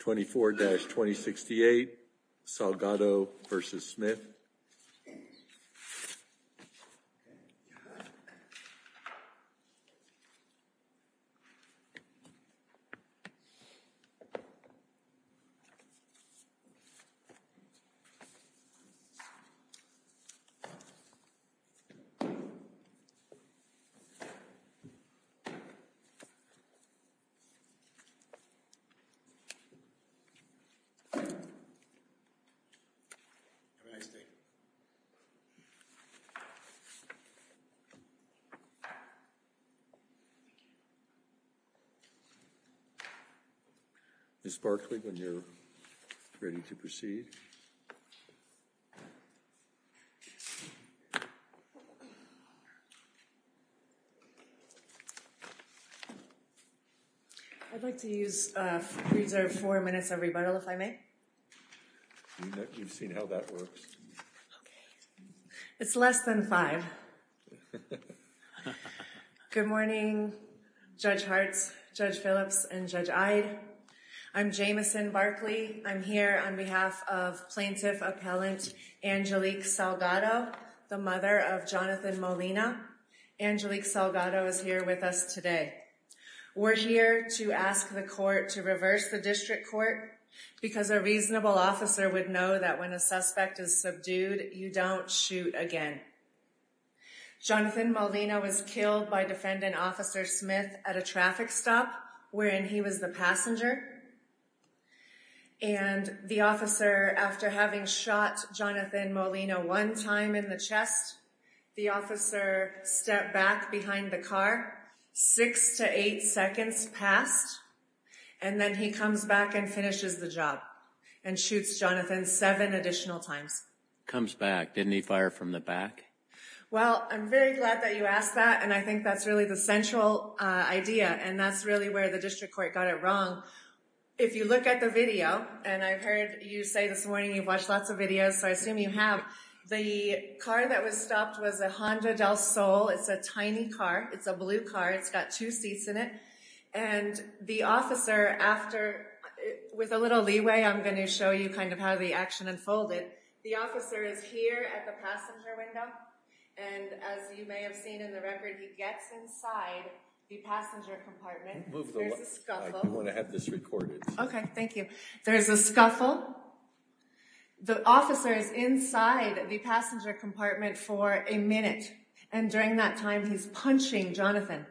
24-2068 Salgado v. Smith I'd like to use reserve four minutes of rebuttal if I may It's less than five Good morning Judge Hart's judge Phillips and judge I'd I'm Jameson Barkley I'm here on behalf of plaintiff appellant Angelique Salgado the mother of Jonathan Molina Angelique Salgado is here with us today We're here to ask the court to reverse the district court Because a reasonable officer would know that when a suspect is subdued you don't shoot again Jonathan Molina was killed by defendant officer Smith at a traffic stop wherein he was the passenger and The officer after having shot Jonathan Molina one time in the chest the officer Step back behind the car six to eight seconds passed and Then he comes back and finishes the job and shoots Jonathan seven additional times comes back Didn't he fire from the back? Well, I'm very glad that you asked that and I think that's really the central idea and that's really where the district court got it wrong if you look at the video and I've heard you say this morning you've watched lots of videos so I assume you have the Car that was stopped was a Honda Del Sol. It's a tiny car. It's a blue car. It's got two seats in it and the officer after With a little leeway, I'm going to show you kind of how the action unfolded There's a scuffle The officer is inside the passenger compartment for a minute and during that time He's punching Jonathan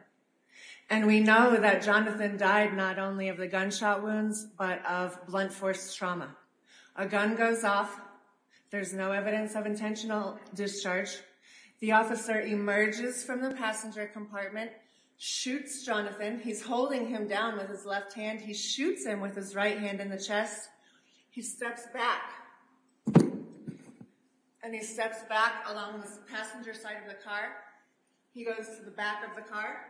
and we know that Jonathan died Not only of the gunshot wounds, but of blunt force trauma a gun goes off There's no evidence of intentional discharge The officer emerges from the passenger compartment Shoots Jonathan. He's holding him down with his left hand. He shoots him with his right hand in the chest He steps back And he steps back along the passenger side of the car he goes to the back of the car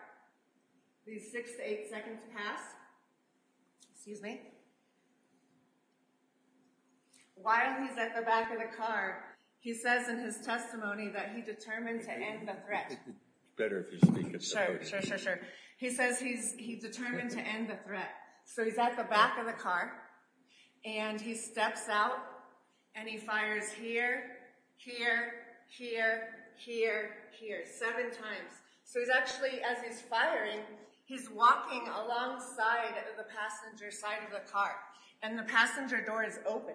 These six to eight seconds pass Excuse me While he's at the back of the car, he says in his testimony that he determined to end the threat He says he's determined to end the threat so he's at the back of the car And he steps out and he fires here here here Here here seven times. So he's actually as he's firing He's walking alongside of the passenger side of the car and the passenger door is open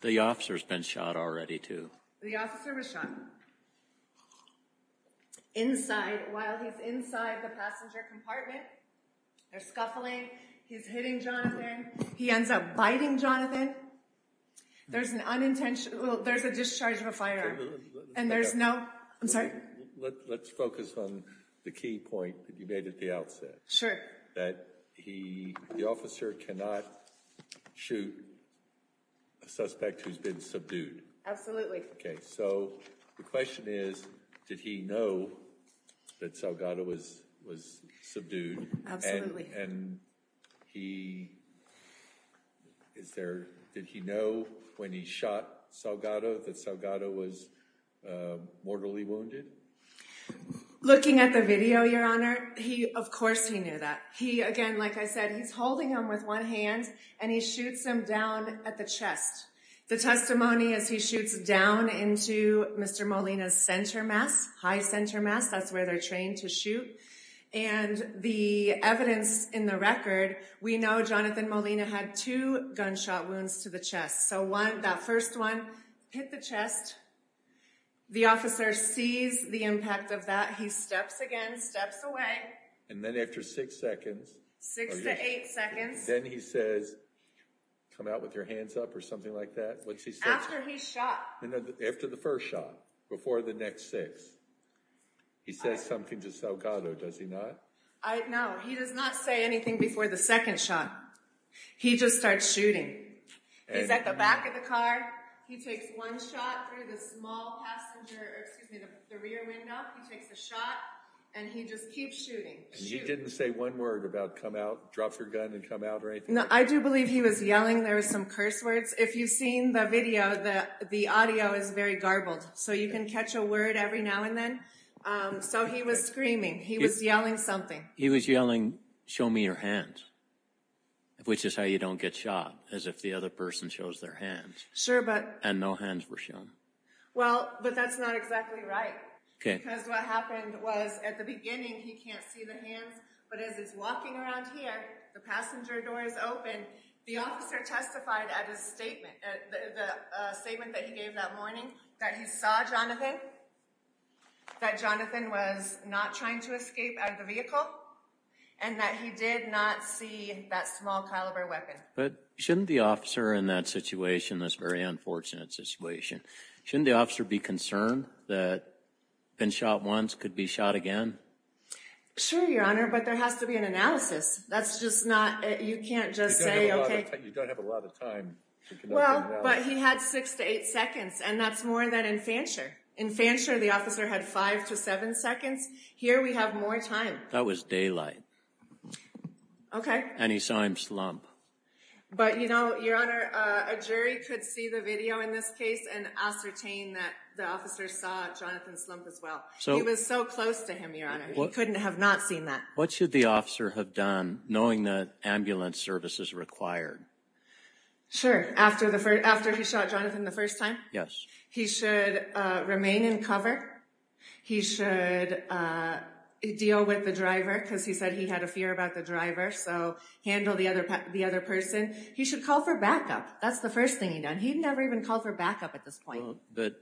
The officers been shot already to the officer was shot Inside He ends up biting Jonathan There's an unintentional. There's a discharge of a firearm and there's no I'm sorry Let's focus on the key point that you made at the outset. Sure that he the officer cannot shoot a Did he know that Salgado was was subdued and he Is there did he know when he shot Salgado that Salgado was mortally wounded Looking at the video your honor. He of course he knew that he again Like I said, he's holding him with one hand and he shoots him down at the chest The testimony as he shoots down into mr. Molina's center mass high center mass, that's where they're trained to shoot and The evidence in the record we know Jonathan Molina had two gunshot wounds to the chest So one that first one hit the chest The officer sees the impact of that he steps again steps away and then after six seconds Then he says Come out with your hands up or something like that After the first shot before the next six He says something to Salgado. Does he not I know he does not say anything before the second shot He just starts shooting At the back of the car he takes one shot And he just keeps shooting you didn't say one word about come out drop your gun and come out right now I do believe he was yelling There was some curse words if you've seen the video that the audio is very garbled so you can catch a word every now And then so he was screaming. He was yelling something. He was yelling show me your hands Which is how you don't get shot as if the other person shows their hands sure, but and no hands were shown Well, but that's not exactly right Because what happened was at the beginning he can't see the hands but as he's walking around here the passenger doors open the officer testified at his statement the Statement that he gave that morning that he saw Jonathan that Jonathan was not trying to escape out of the vehicle and That he did not see that small-caliber weapon, but shouldn't the officer in that situation this very unfortunate situation shouldn't the officer be concerned that Been shot once could be shot again Sure, your honor, but there has to be an analysis. That's just not you can't just say okay Well, but he had six to eight seconds And that's more than in Fanshawe in Fanshawe the officer had five to seven seconds here That was daylight Okay, and he saw him slump But you know your honor a jury could see the video in this case and ascertain that the officer saw Jonathan slump as well So it was so close to him your honor couldn't have not seen that what should the officer have done knowing that ambulance service is required Sure after the first after he shot Jonathan the first time yes, he should remain in cover he should Deal with the driver because he said he had a fear about the driver so handle the other the other person He should call for backup. That's the first thing he done. He'd never even called for backup at this point, but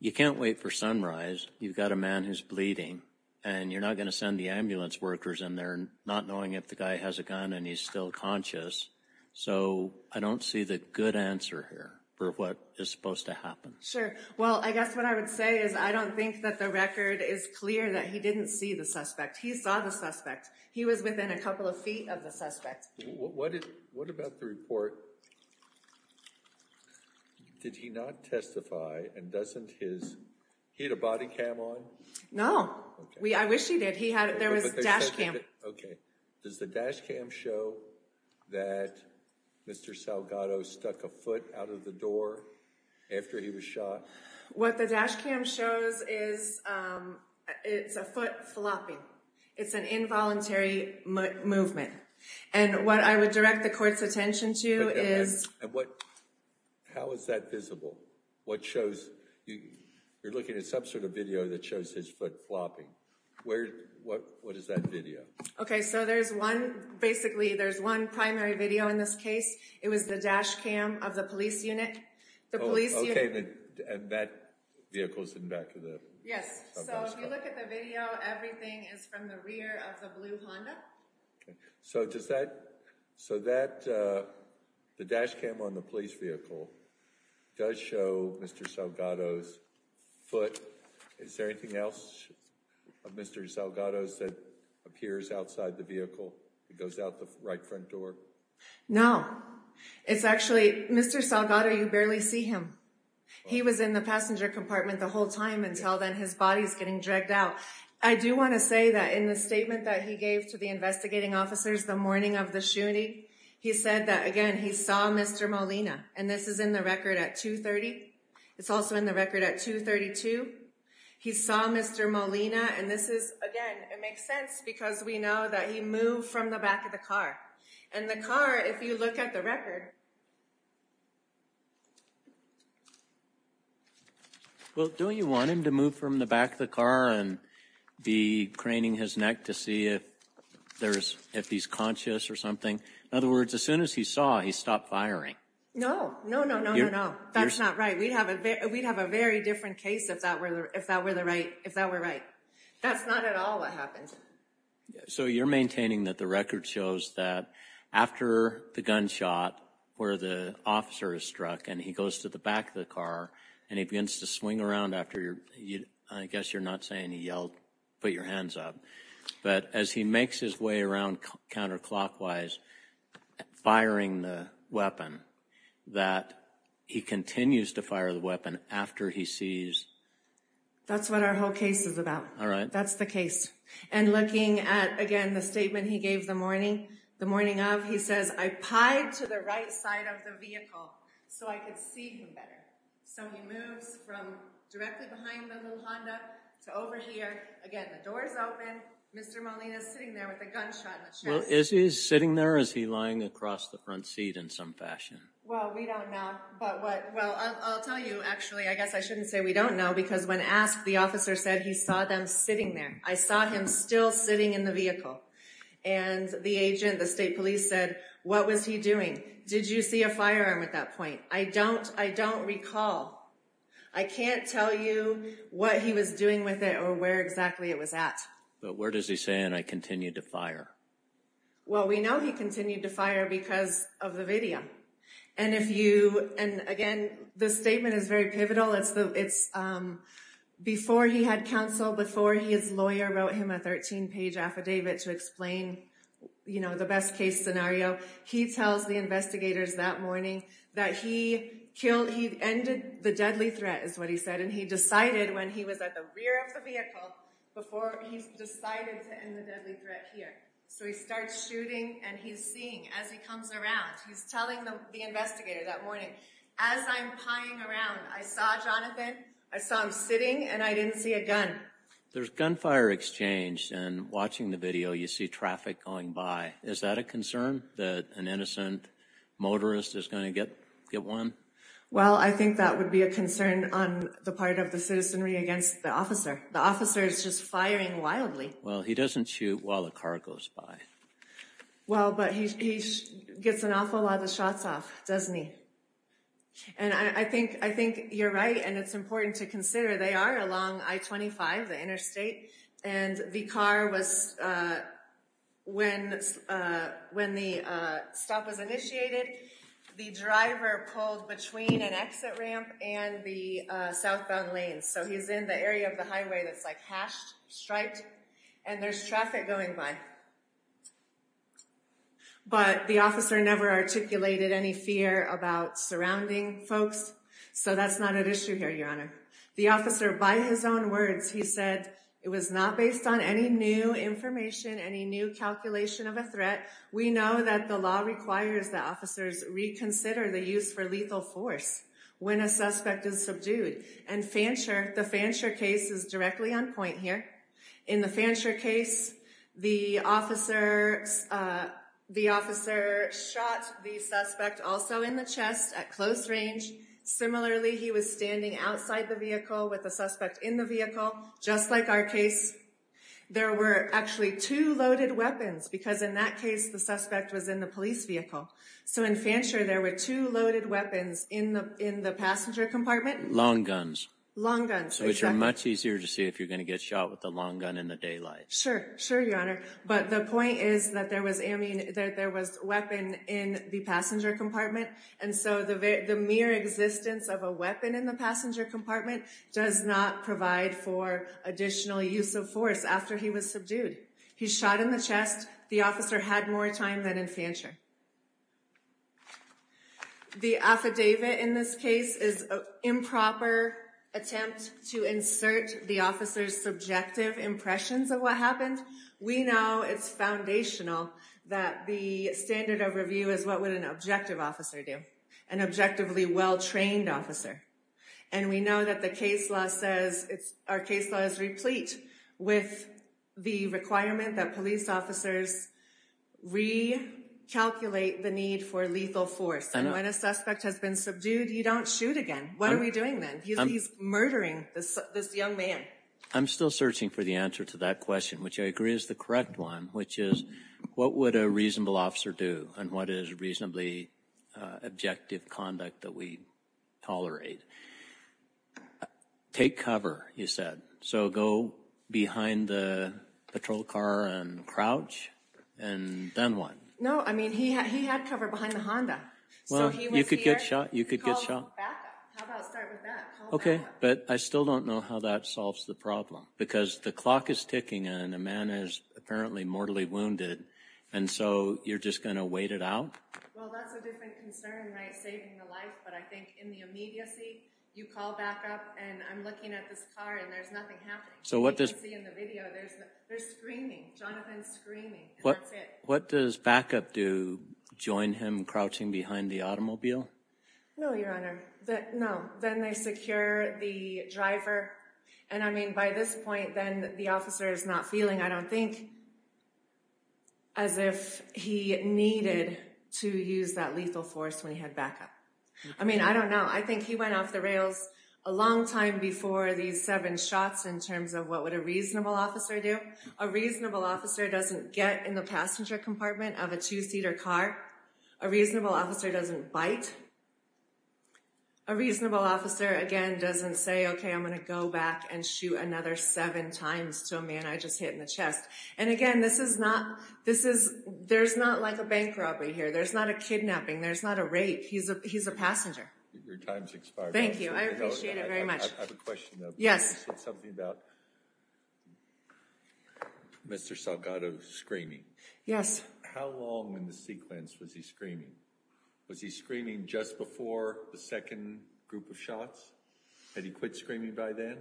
You can't wait for sunrise You've got a man who's bleeding and you're not gonna send the ambulance workers in there not knowing if the guy has a gun and He's still conscious So I don't see the good answer here for what is supposed to happen sure well I guess what I would say is I don't think that the record is clear that he didn't see the suspect He saw the suspect he was within a couple of feet of the suspect. What did what about the report? Did he not testify and doesn't his he had a body cam on no We I wish he did he had it there was a dashcam. Okay. Does the dashcam show? that Mr.. Salgado stuck a foot out of the door After he was shot what the dashcam shows is It's a foot flopping. It's an involuntary Movement and what I would direct the court's attention to is what? How is that visible what shows you you're looking at some sort of video that shows his foot flopping? Where what what is that video? Okay? So there's one basically there's one primary video in this case It was the dashcam of the police unit the police So does that so that The dashcam on the police vehicle does show mr. Salgado's Foot is there anything else? Of mr. Salgado's that appears outside the vehicle it goes out the right front door No, it's actually mr. Salgado. You barely see him He was in the passenger compartment the whole time until then his body's getting dragged out I do want to say that in the statement that he gave to the investigating officers the morning of the shooting He said that again. He saw mr. Molina, and this is in the record at 2 30. It's also in the record at 2 32 He saw mr. Molina, and this is again Because we know that he moved from the back of the car and the car if you look at the record Well, don't you want him to move from the back of the car and be craning his neck to see if There's if he's conscious or something in other words as soon as he saw he stopped firing. No, no, no, no No, that's not right. We'd have a bit We'd have a very different case if that were if that were the right if that were right, that's not at all Yeah, so you're maintaining that the record shows that After the gunshot where the officer is struck and he goes to the back of the car And he begins to swing around after your you I guess you're not saying he yelled put your hands up But as he makes his way around counterclockwise Firing the weapon that he continues to fire the weapon after he sees That's what our whole case is about all right, that's the case and looking at again the statement He gave the morning the morning of he says I pied to the right side of the vehicle Is he's sitting there is he lying across the front seat in some fashion We don't know but what well I'll tell you actually I guess I shouldn't say we don't know because when asked the officer said he saw Them sitting there. I saw him still sitting in the vehicle and The agent the state police said what was he doing? Did you see a firearm at that point? I don't I don't recall I Can't tell you what he was doing with it or where exactly it was at. But where does he say and I continued to fire? Well, we know he continued to fire because of the video and if you and again the statement is very pivotal it's the it's Before he had counsel before he is lawyer wrote him a 13-page affidavit to explain You know the best-case scenario He tells the investigators that morning that he killed he ended the deadly threat is what he said And he decided when he was at the rear of the vehicle before he Starts shooting and he's seeing as he comes around He's telling them the investigator that morning as I'm pying around. I saw Jonathan I saw him sitting and I didn't see a gun There's gunfire exchange and watching the video you see traffic going by. Is that a concern that an innocent? Motorist is going to get get one Well, I think that would be a concern on the part of the citizenry against the officer The officer is just firing wildly. Well, he doesn't shoot while the car goes by well, but he Gets an awful lot of shots off, doesn't he? and I think I think you're right and it's important to consider they are along I-25 the interstate and the car was when when the stop was initiated The driver pulled between an exit ramp and the southbound lanes, so he's in the area of the highway That's like hashed striped and there's traffic going by But the officer never articulated any fear about surrounding folks So that's not an issue here your honor the officer by his own words He said it was not based on any new information any new calculation of a threat We know that the law requires the officers reconsider the use for lethal force When a suspect is subdued and Fanshawe the Fanshawe case is directly on point here in the Fanshawe case the officer The officer shot the suspect also in the chest at close range Similarly, he was standing outside the vehicle with a suspect in the vehicle just like our case There were actually two loaded weapons because in that case the suspect was in the police vehicle So in Fanshawe there were two loaded weapons in the in the passenger compartment long guns Long guns, so it's much easier to see if you're going to get shot with the long gun in the daylight Sure, sure your honor, but the point is that there was a mean that there was weapon in the passenger compartment and so the the mere existence of a weapon in the passenger compartment does not provide for Additional use of force after he was subdued. He shot in the chest the officer had more time than in Fanshawe The affidavit in this case is a improper Attempt to insert the officer's subjective impressions of what happened. We know it's foundational that the standard of review is what would an objective officer do an Objectively well-trained officer and we know that the case law says it's our case law is replete with the requirement that police officers we Calculate the need for lethal force and when a suspect has been subdued you don't shoot again. What are we doing then? He's murdering this young man. I'm still searching for the answer to that question, which I agree is the correct one Which is what would a reasonable officer do and what is reasonably? Objective conduct that we tolerate Take cover you said so go behind the patrol car and crouch and Then what no, I mean he had he had cover behind the Honda. Well, you could get shot you could get shot Okay, but I still don't know how that solves the problem because the clock is ticking and a man is apparently mortally wounded and So you're just gonna wait it out Saving the life, but I think in the immediacy you call back up and I'm looking at this car and there's nothing happening So what does see in the video? There's there's screaming Jonathan screaming. What what does backup do? Join him crouching behind the automobile No, your honor that no then they secure the driver and I mean by this point then the officer is not feeling I don't think as If he needed to use that lethal force when he had backup, I mean, I don't know I think he went off the rails a long time before these seven shots in terms of what would a reasonable officer do a reasonable officer doesn't get in the passenger compartment of a two-seater car a reasonable officer doesn't bite a Reasonable officer again doesn't say okay I'm gonna go back and shoot another seven times to a man And again, this is not this is there's not like a bank robbery here, there's not a kidnapping there's not a rape He's a he's a passenger Yes Mr. Salgado screaming. Yes Was he screaming just before the second group of shots had he quit screaming by then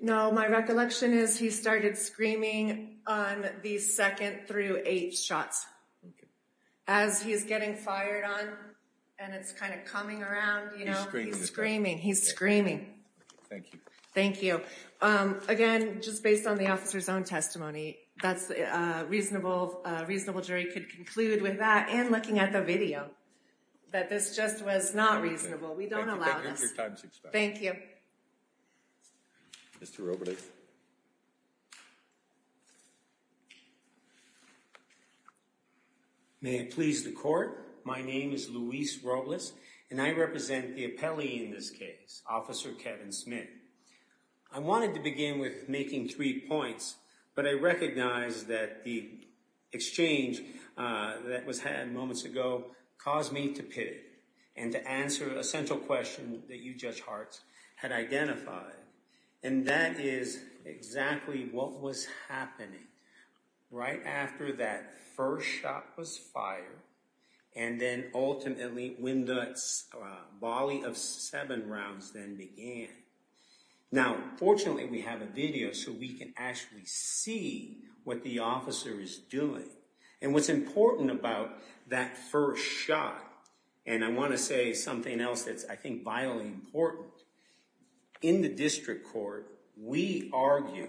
No, my recollection is he started screaming on the second through eight shots as He's getting fired on and it's kind of coming around, you know, he's screaming. He's screaming Thank you. Thank you again, just based on the officer's own testimony, that's Reasonable reasonable jury could conclude with that and looking at the video That this just was not reasonable. We don't allow this Thank you Mr. May it please the court. My name is Luis Robles and I represent the appellee in this case officer Kevin Smith. I wanted to begin with making three points, but I recognize that the exchange That was had moments ago caused me to pit it and to answer a central question that you judge hearts had identified and that is Exactly. What was happening? right after that first shot was fired and then ultimately when the volley of seven rounds then began Now fortunately, we have a video so we can actually see what the officer is doing And what's important about that first shot and I want to say something else. That's I think vitally important in the district court we argue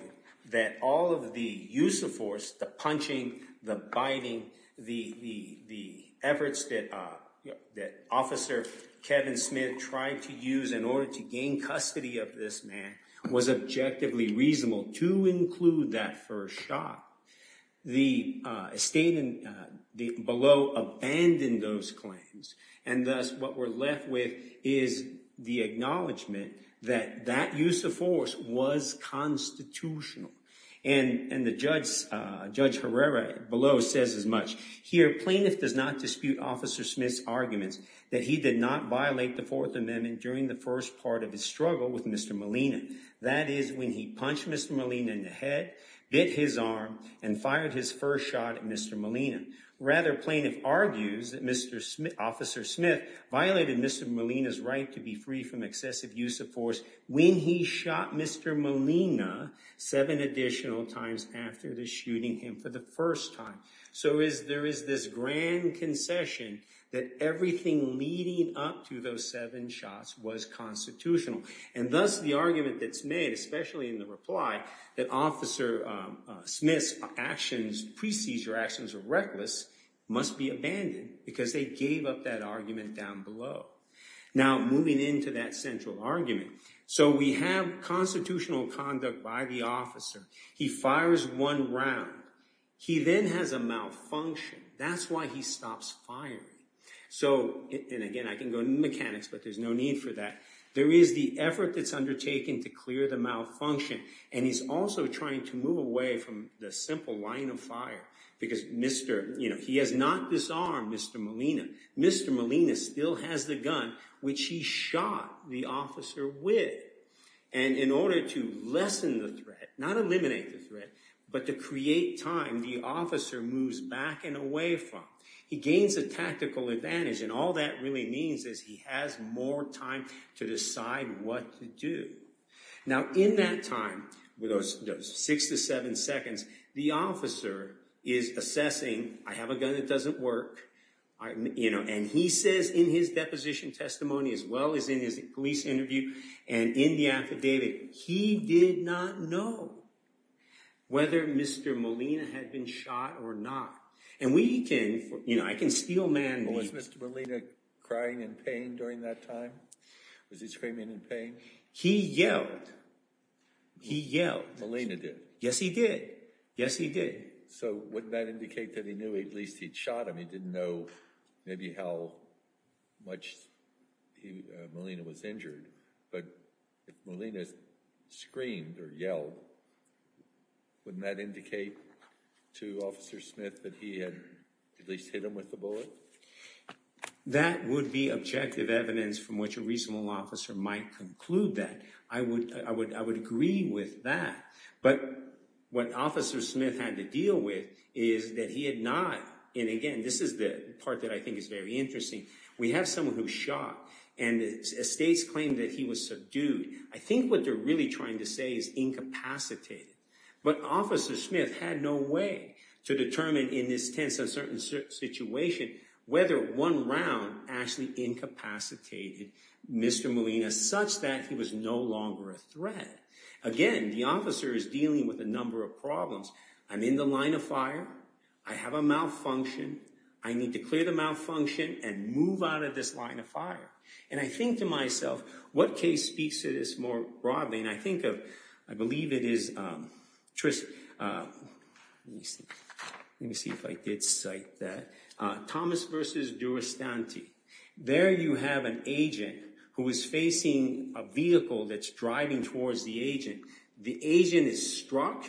that all of the use of force the punching the biting the the the efforts that that officer Kevin Smith tried to use in order to gain custody of this man was Objectively reasonable to include that first shot The state and the below abandoned those claims and thus what we're left with is the acknowledgement that that use of force was Constitutional and and the judge judge Herrera below says as much here plaintiff does not dispute officer Smith's Arguments that he did not violate the Fourth Amendment during the first part of his struggle with. Mr Molina, that is when he punched. Mr Molina in the head bit his arm and fired his first shot. Mr Molina rather plaintiff argues that mr. Smith officer Smith violated. Mr Molina's right to be free from excessive use of force when he shot. Mr Molina seven additional times after the shooting him for the first time So is there is this grand concession that everything leading up to those seven shots was? Constitutional and thus the argument that's made especially in the reply that officer Smith's actions pre-seizure actions are reckless must be abandoned because they gave up that argument down below now moving into that central argument, so we have Constitutional conduct by the officer. He fires one round He then has a malfunction. That's why he stops firing So and again I can go to mechanics but there's no need for that there is the effort that's undertaken to clear the Malfunction and he's also trying to move away from the simple line of fire because mr. You know, he has not disarmed. Mr Molina, mr Molina still has the gun which he shot the officer with and In order to lessen the threat not eliminate the threat But to create time the officer moves back and away from he gains a tactical advantage and all that really means is he has More time to decide what to do Now in that time with those six to seven seconds. The officer is Assessing I have a gun that doesn't work You know and he says in his deposition testimony as well as in his police interview and in the affidavit He did not know Whether mr. Molina had been shot or not and we can you know, I can steal man Was mr. Molina crying in pain during that time? Was he screaming in pain? He yelled He yelled Molina did yes, he did. Yes, he did. So would that indicate that he knew at least he'd shot him He didn't know maybe how much Molina was injured but Molina Screamed or yelled Wouldn't that indicate to officer Smith that he had at least hit him with the bullet That would be objective evidence from which a reasonable officer might conclude that I would I would I would agree with that But what officer Smith had to deal with is that he had not in again This is the part that I think is very interesting. We have someone who shot and Estates claimed that he was subdued. I think what they're really trying to say is Incapacitated but officer Smith had no way to determine in this tense a certain situation Whether one round actually incapacitated Mr. Molina such that he was no longer a threat again. The officer is dealing with a number of problems I'm in the line of fire. I have a malfunction I need to clear the malfunction and move out of this line of fire and I think to myself What case speaks to this more broadly and I think of I believe it is Trish Let me see if I did cite that Thomas versus do a stantee there You have an agent who is facing a vehicle that's driving towards the agent. The agent is struck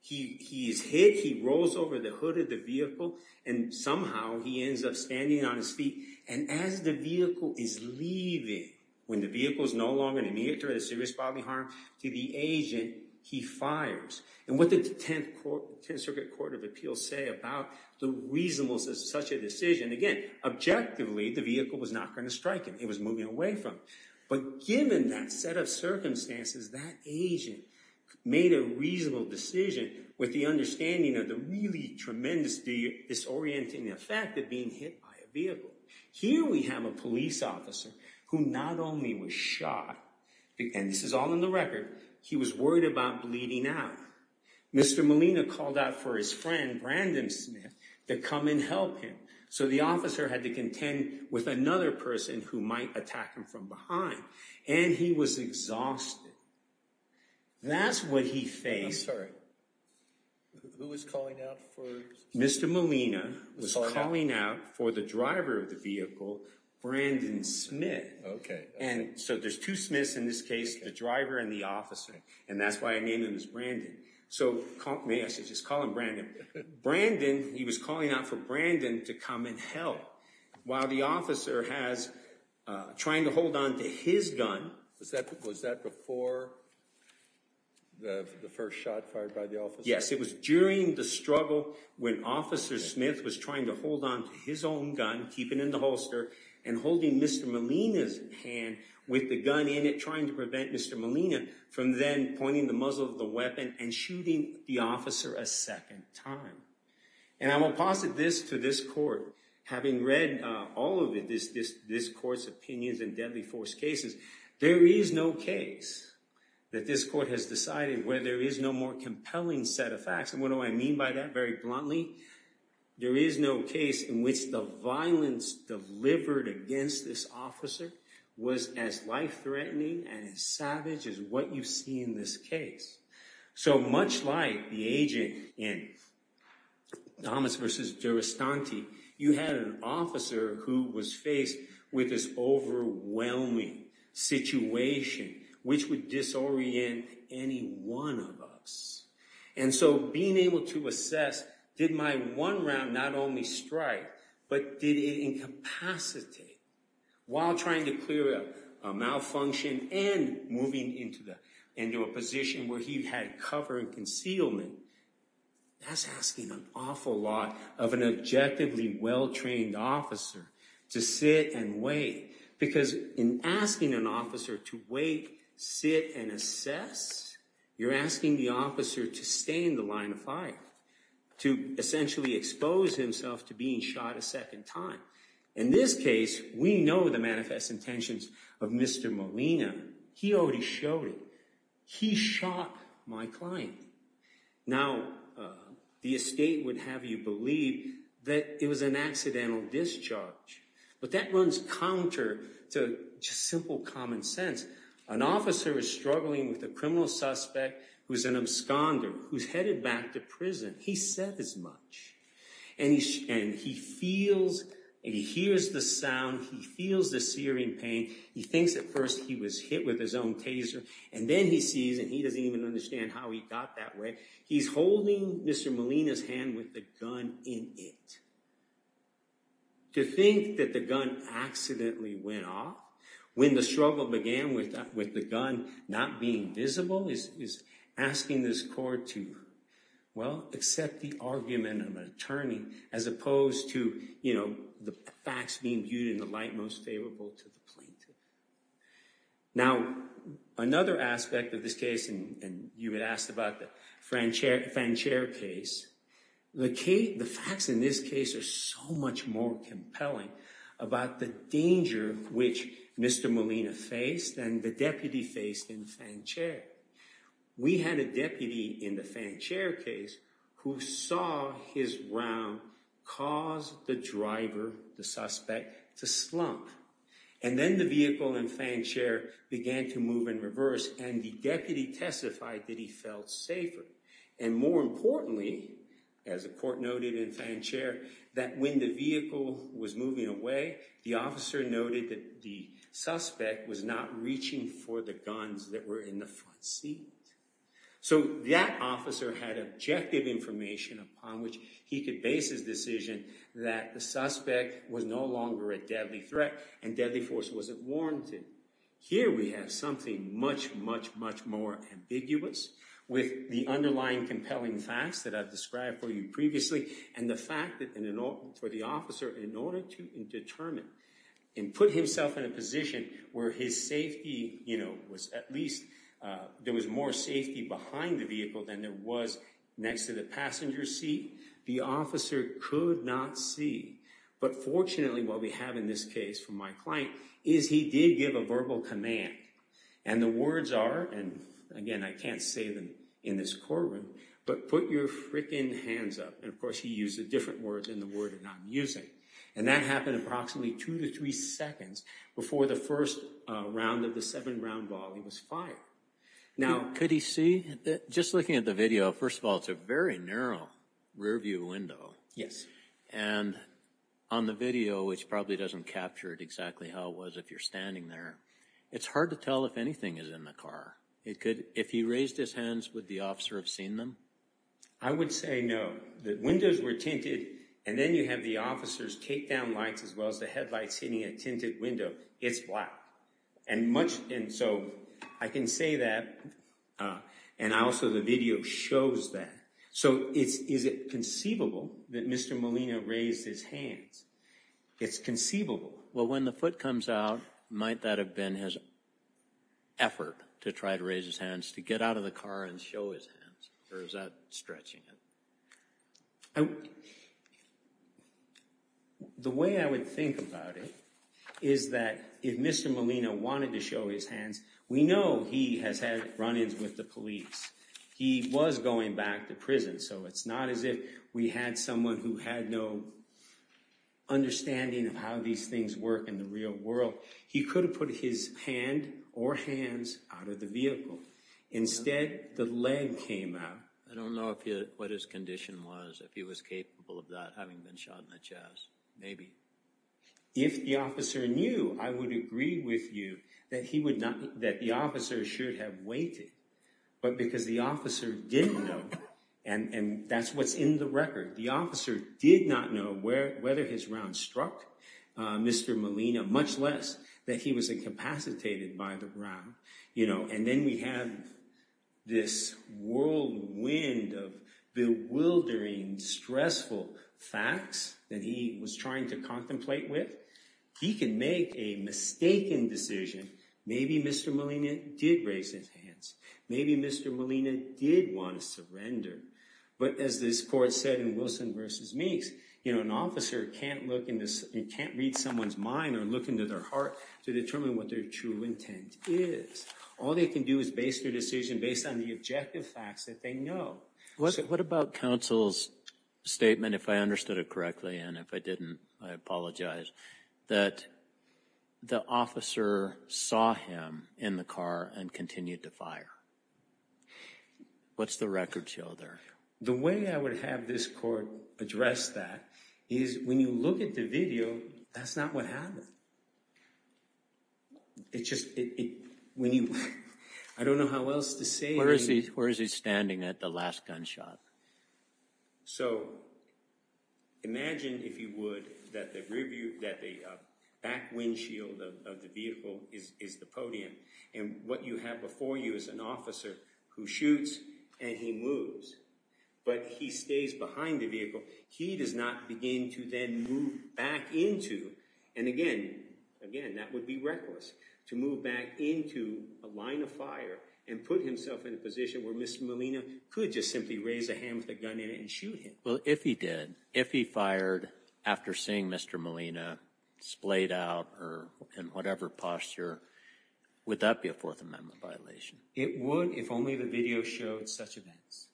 He is hit he rolls over the hood of the vehicle and somehow he ends up standing on his feet and as the vehicle is Leaving when the vehicle is no longer an immediate or a serious bodily harm to the agent He fires and what the 10th Court 10th Circuit Court of Appeals say about the reasonables as such a decision again Objectively the vehicle was not going to strike him. It was moving away from but given that set of circumstances that agent Made a reasonable decision with the understanding of the really tremendous Disorienting effect of being hit by a vehicle here. We have a police officer who not only was shot Again, this is all in the record. He was worried about bleeding out Mr. Molina called out for his friend Brandon Smith to come and help him So the officer had to contend with another person who might attack him from behind and he was exhausted That's what he faced Mr. Molina was calling out for the driver of the vehicle Brandon Smith, okay And so there's two Smith's in this case the driver and the officer and that's why I named him as Brandon So call me I should just call him Brandon Brandon. He was calling out for Brandon to come and help while the officer has Trying to hold on to his gun was that was that before The first shot fired by the office. Yes It was during the struggle when officer Smith was trying to hold on to his own gun keeping in the holster and holding Mr. Molina's hand with the gun in it trying to prevent. Mr Molina from then pointing the muzzle of the weapon and shooting the officer a second time And I will posit this to this court having read all of it is this this court's opinions and deadly force cases There is no case That this court has decided where there is no more compelling set of facts. And what do I mean by that very bluntly? There is no case in which the violence Delivered against this officer was as life-threatening and as savage as what you see in this case so much like the agent in Thomas vs. Durastan T. You had an officer who was faced with this overwhelming Situation which would disorient any one of us and so being able to assess Did my one round not only strike but did it incapacitate? while trying to clear up a Malfunction and moving into the into a position where he had cover and concealment That's asking an awful lot of an objectively well trained officer to sit and wait Because in asking an officer to wait sit and assess You're asking the officer to stay in the line of fire To essentially expose himself to being shot a second time in this case. We know the manifest intentions of Mr. Molina, he already showed it. He shot my client now The estate would have you believe that it was an accidental discharge But that runs counter to just simple common sense an officer is struggling with the criminal suspect Who's an absconder who's headed back to prison? He said as much and he and he feels And he hears the sound he feels the searing pain He thinks at first he was hit with his own taser And then he sees and he doesn't even understand how he got that way. He's holding. Mr. Molina's hand with the gun in it To think that the gun Accidentally went off when the struggle began with that with the gun not being visible is asking this court to Well accept the argument of an attorney as opposed to you know The facts being viewed in the light most favorable to the plaintiff now Another aspect of this case and you had asked about the French air fan chair case The Kate the facts in this case are so much more compelling about the danger which mr Molina faced and the deputy faced in the fan chair We had a deputy in the fan chair case who saw his round caused the driver the suspect to slump and Then the vehicle and fan chair began to move in reverse and the deputy testified that he felt safer and more importantly as a court noted in fan chair that when the vehicle was moving away the officer noted that the Suspect was not reaching for the guns that were in the front seat So that officer had objective information upon which he could base his decision That the suspect was no longer a deadly threat and deadly force wasn't warranted Here we have something much much much more ambiguous with the underlying compelling facts that I've described for you previously and the fact that in an order for the officer in order to Determine and put himself in a position where his safety, you know was at least There was more safety behind the vehicle than there was next to the passenger seat The officer could not see but fortunately while we have in this case for my client is he did give a verbal command And the words are and again I can't say them in this courtroom But put your frickin hands up and of course he used the different words in the word I'm using and that happened approximately two to three seconds before the first round of the seven round ball. He was fired Now could he see that just looking at the video first of all, it's a very narrow rearview window Yes, and on the video, which probably doesn't capture it exactly how it was if you're standing there It's hard to tell if anything is in the car. It could if he raised his hands with the officer have seen them I would say no that windows were tinted and then you have the officers take down lights as well as the headlights hitting a tinted It's black and much and so I can say that And I also the video shows that so it's is it conceivable that mr. Molina raised his hands It's conceivable. Well when the foot comes out might that have been his Effort to try to raise his hands to get out of the car and show his hands or is that stretching it? The Way I would think about it is that if mr. Molina wanted to show his hands We know he has had run-ins with the police. He was going back to prison. So it's not as if we had someone who had no Understanding of how these things work in the real world He could have put his hand or hands out of the vehicle Instead the leg came out I don't know if you what his condition was if he was capable of that having been shot in the chest, maybe If the officer knew I would agree with you that he would not that the officer should have waited But because the officer didn't know and and that's what's in the record. The officer did not know where whether his round struck Mr. Molina much less that he was incapacitated by the ground, you know and then we have this whirlwind of bewildering stressful facts that he was trying to contemplate with he can make a Mistaken decision. Maybe mr. Molina did raise his hands. Maybe mr Molina did want to surrender but as this court said in Wilson versus Meeks, you know An officer can't look in this and can't read someone's mind or look into their heart to determine what their true intent is All they can do is base their decision based on the objective facts that they know. What's it? What about counsel's? Statement if I understood it correctly, and if I didn't I apologize that The officer saw him in the car and continued to fire What's the record show there the way I would have this court address that is when you look at the video That's not what happened It's just When you I don't know how else to say where is he? Where is he standing at the last gunshot? so Imagine if you would that the rear view that the Back windshield of the vehicle is the podium and what you have before you is an officer who shoots and he moves But he stays behind the vehicle He does not begin to then move back into and again Again, that would be reckless to move back into a line of fire and put himself in a position where mr Molina could just simply raise a hand with a gun in it and shoot him Well, if he did if he fired after seeing mr. Molina splayed out or in whatever posture Would that be a Fourth Amendment violation it would if only the video showed such events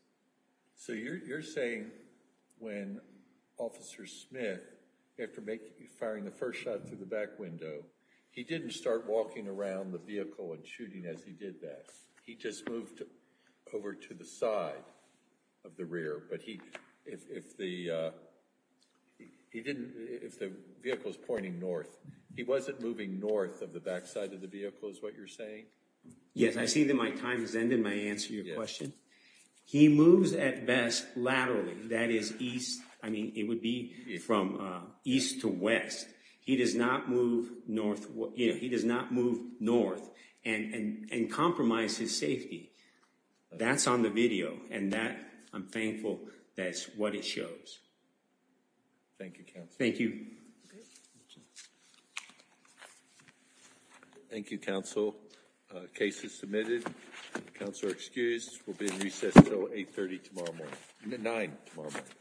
so you're saying when Officer Smith after making you firing the first shot through the back window He didn't start walking around the vehicle and shooting as he did that. He just moved over to the side of the rear, but he if the He didn't if the vehicle is pointing north. He wasn't moving north of the back side of the vehicle is what you're saying Yes, I see that my time has ended my answer your question He moves at best laterally that is east. I mean it would be from east to west He does not move north what you know, he does not move north and and and compromise his safety That's on the video and that I'm thankful. That's what it shows Thank you. Thank you Thank You counsel cases submitted counselor excused will be in recess till 830 tomorrow morning nine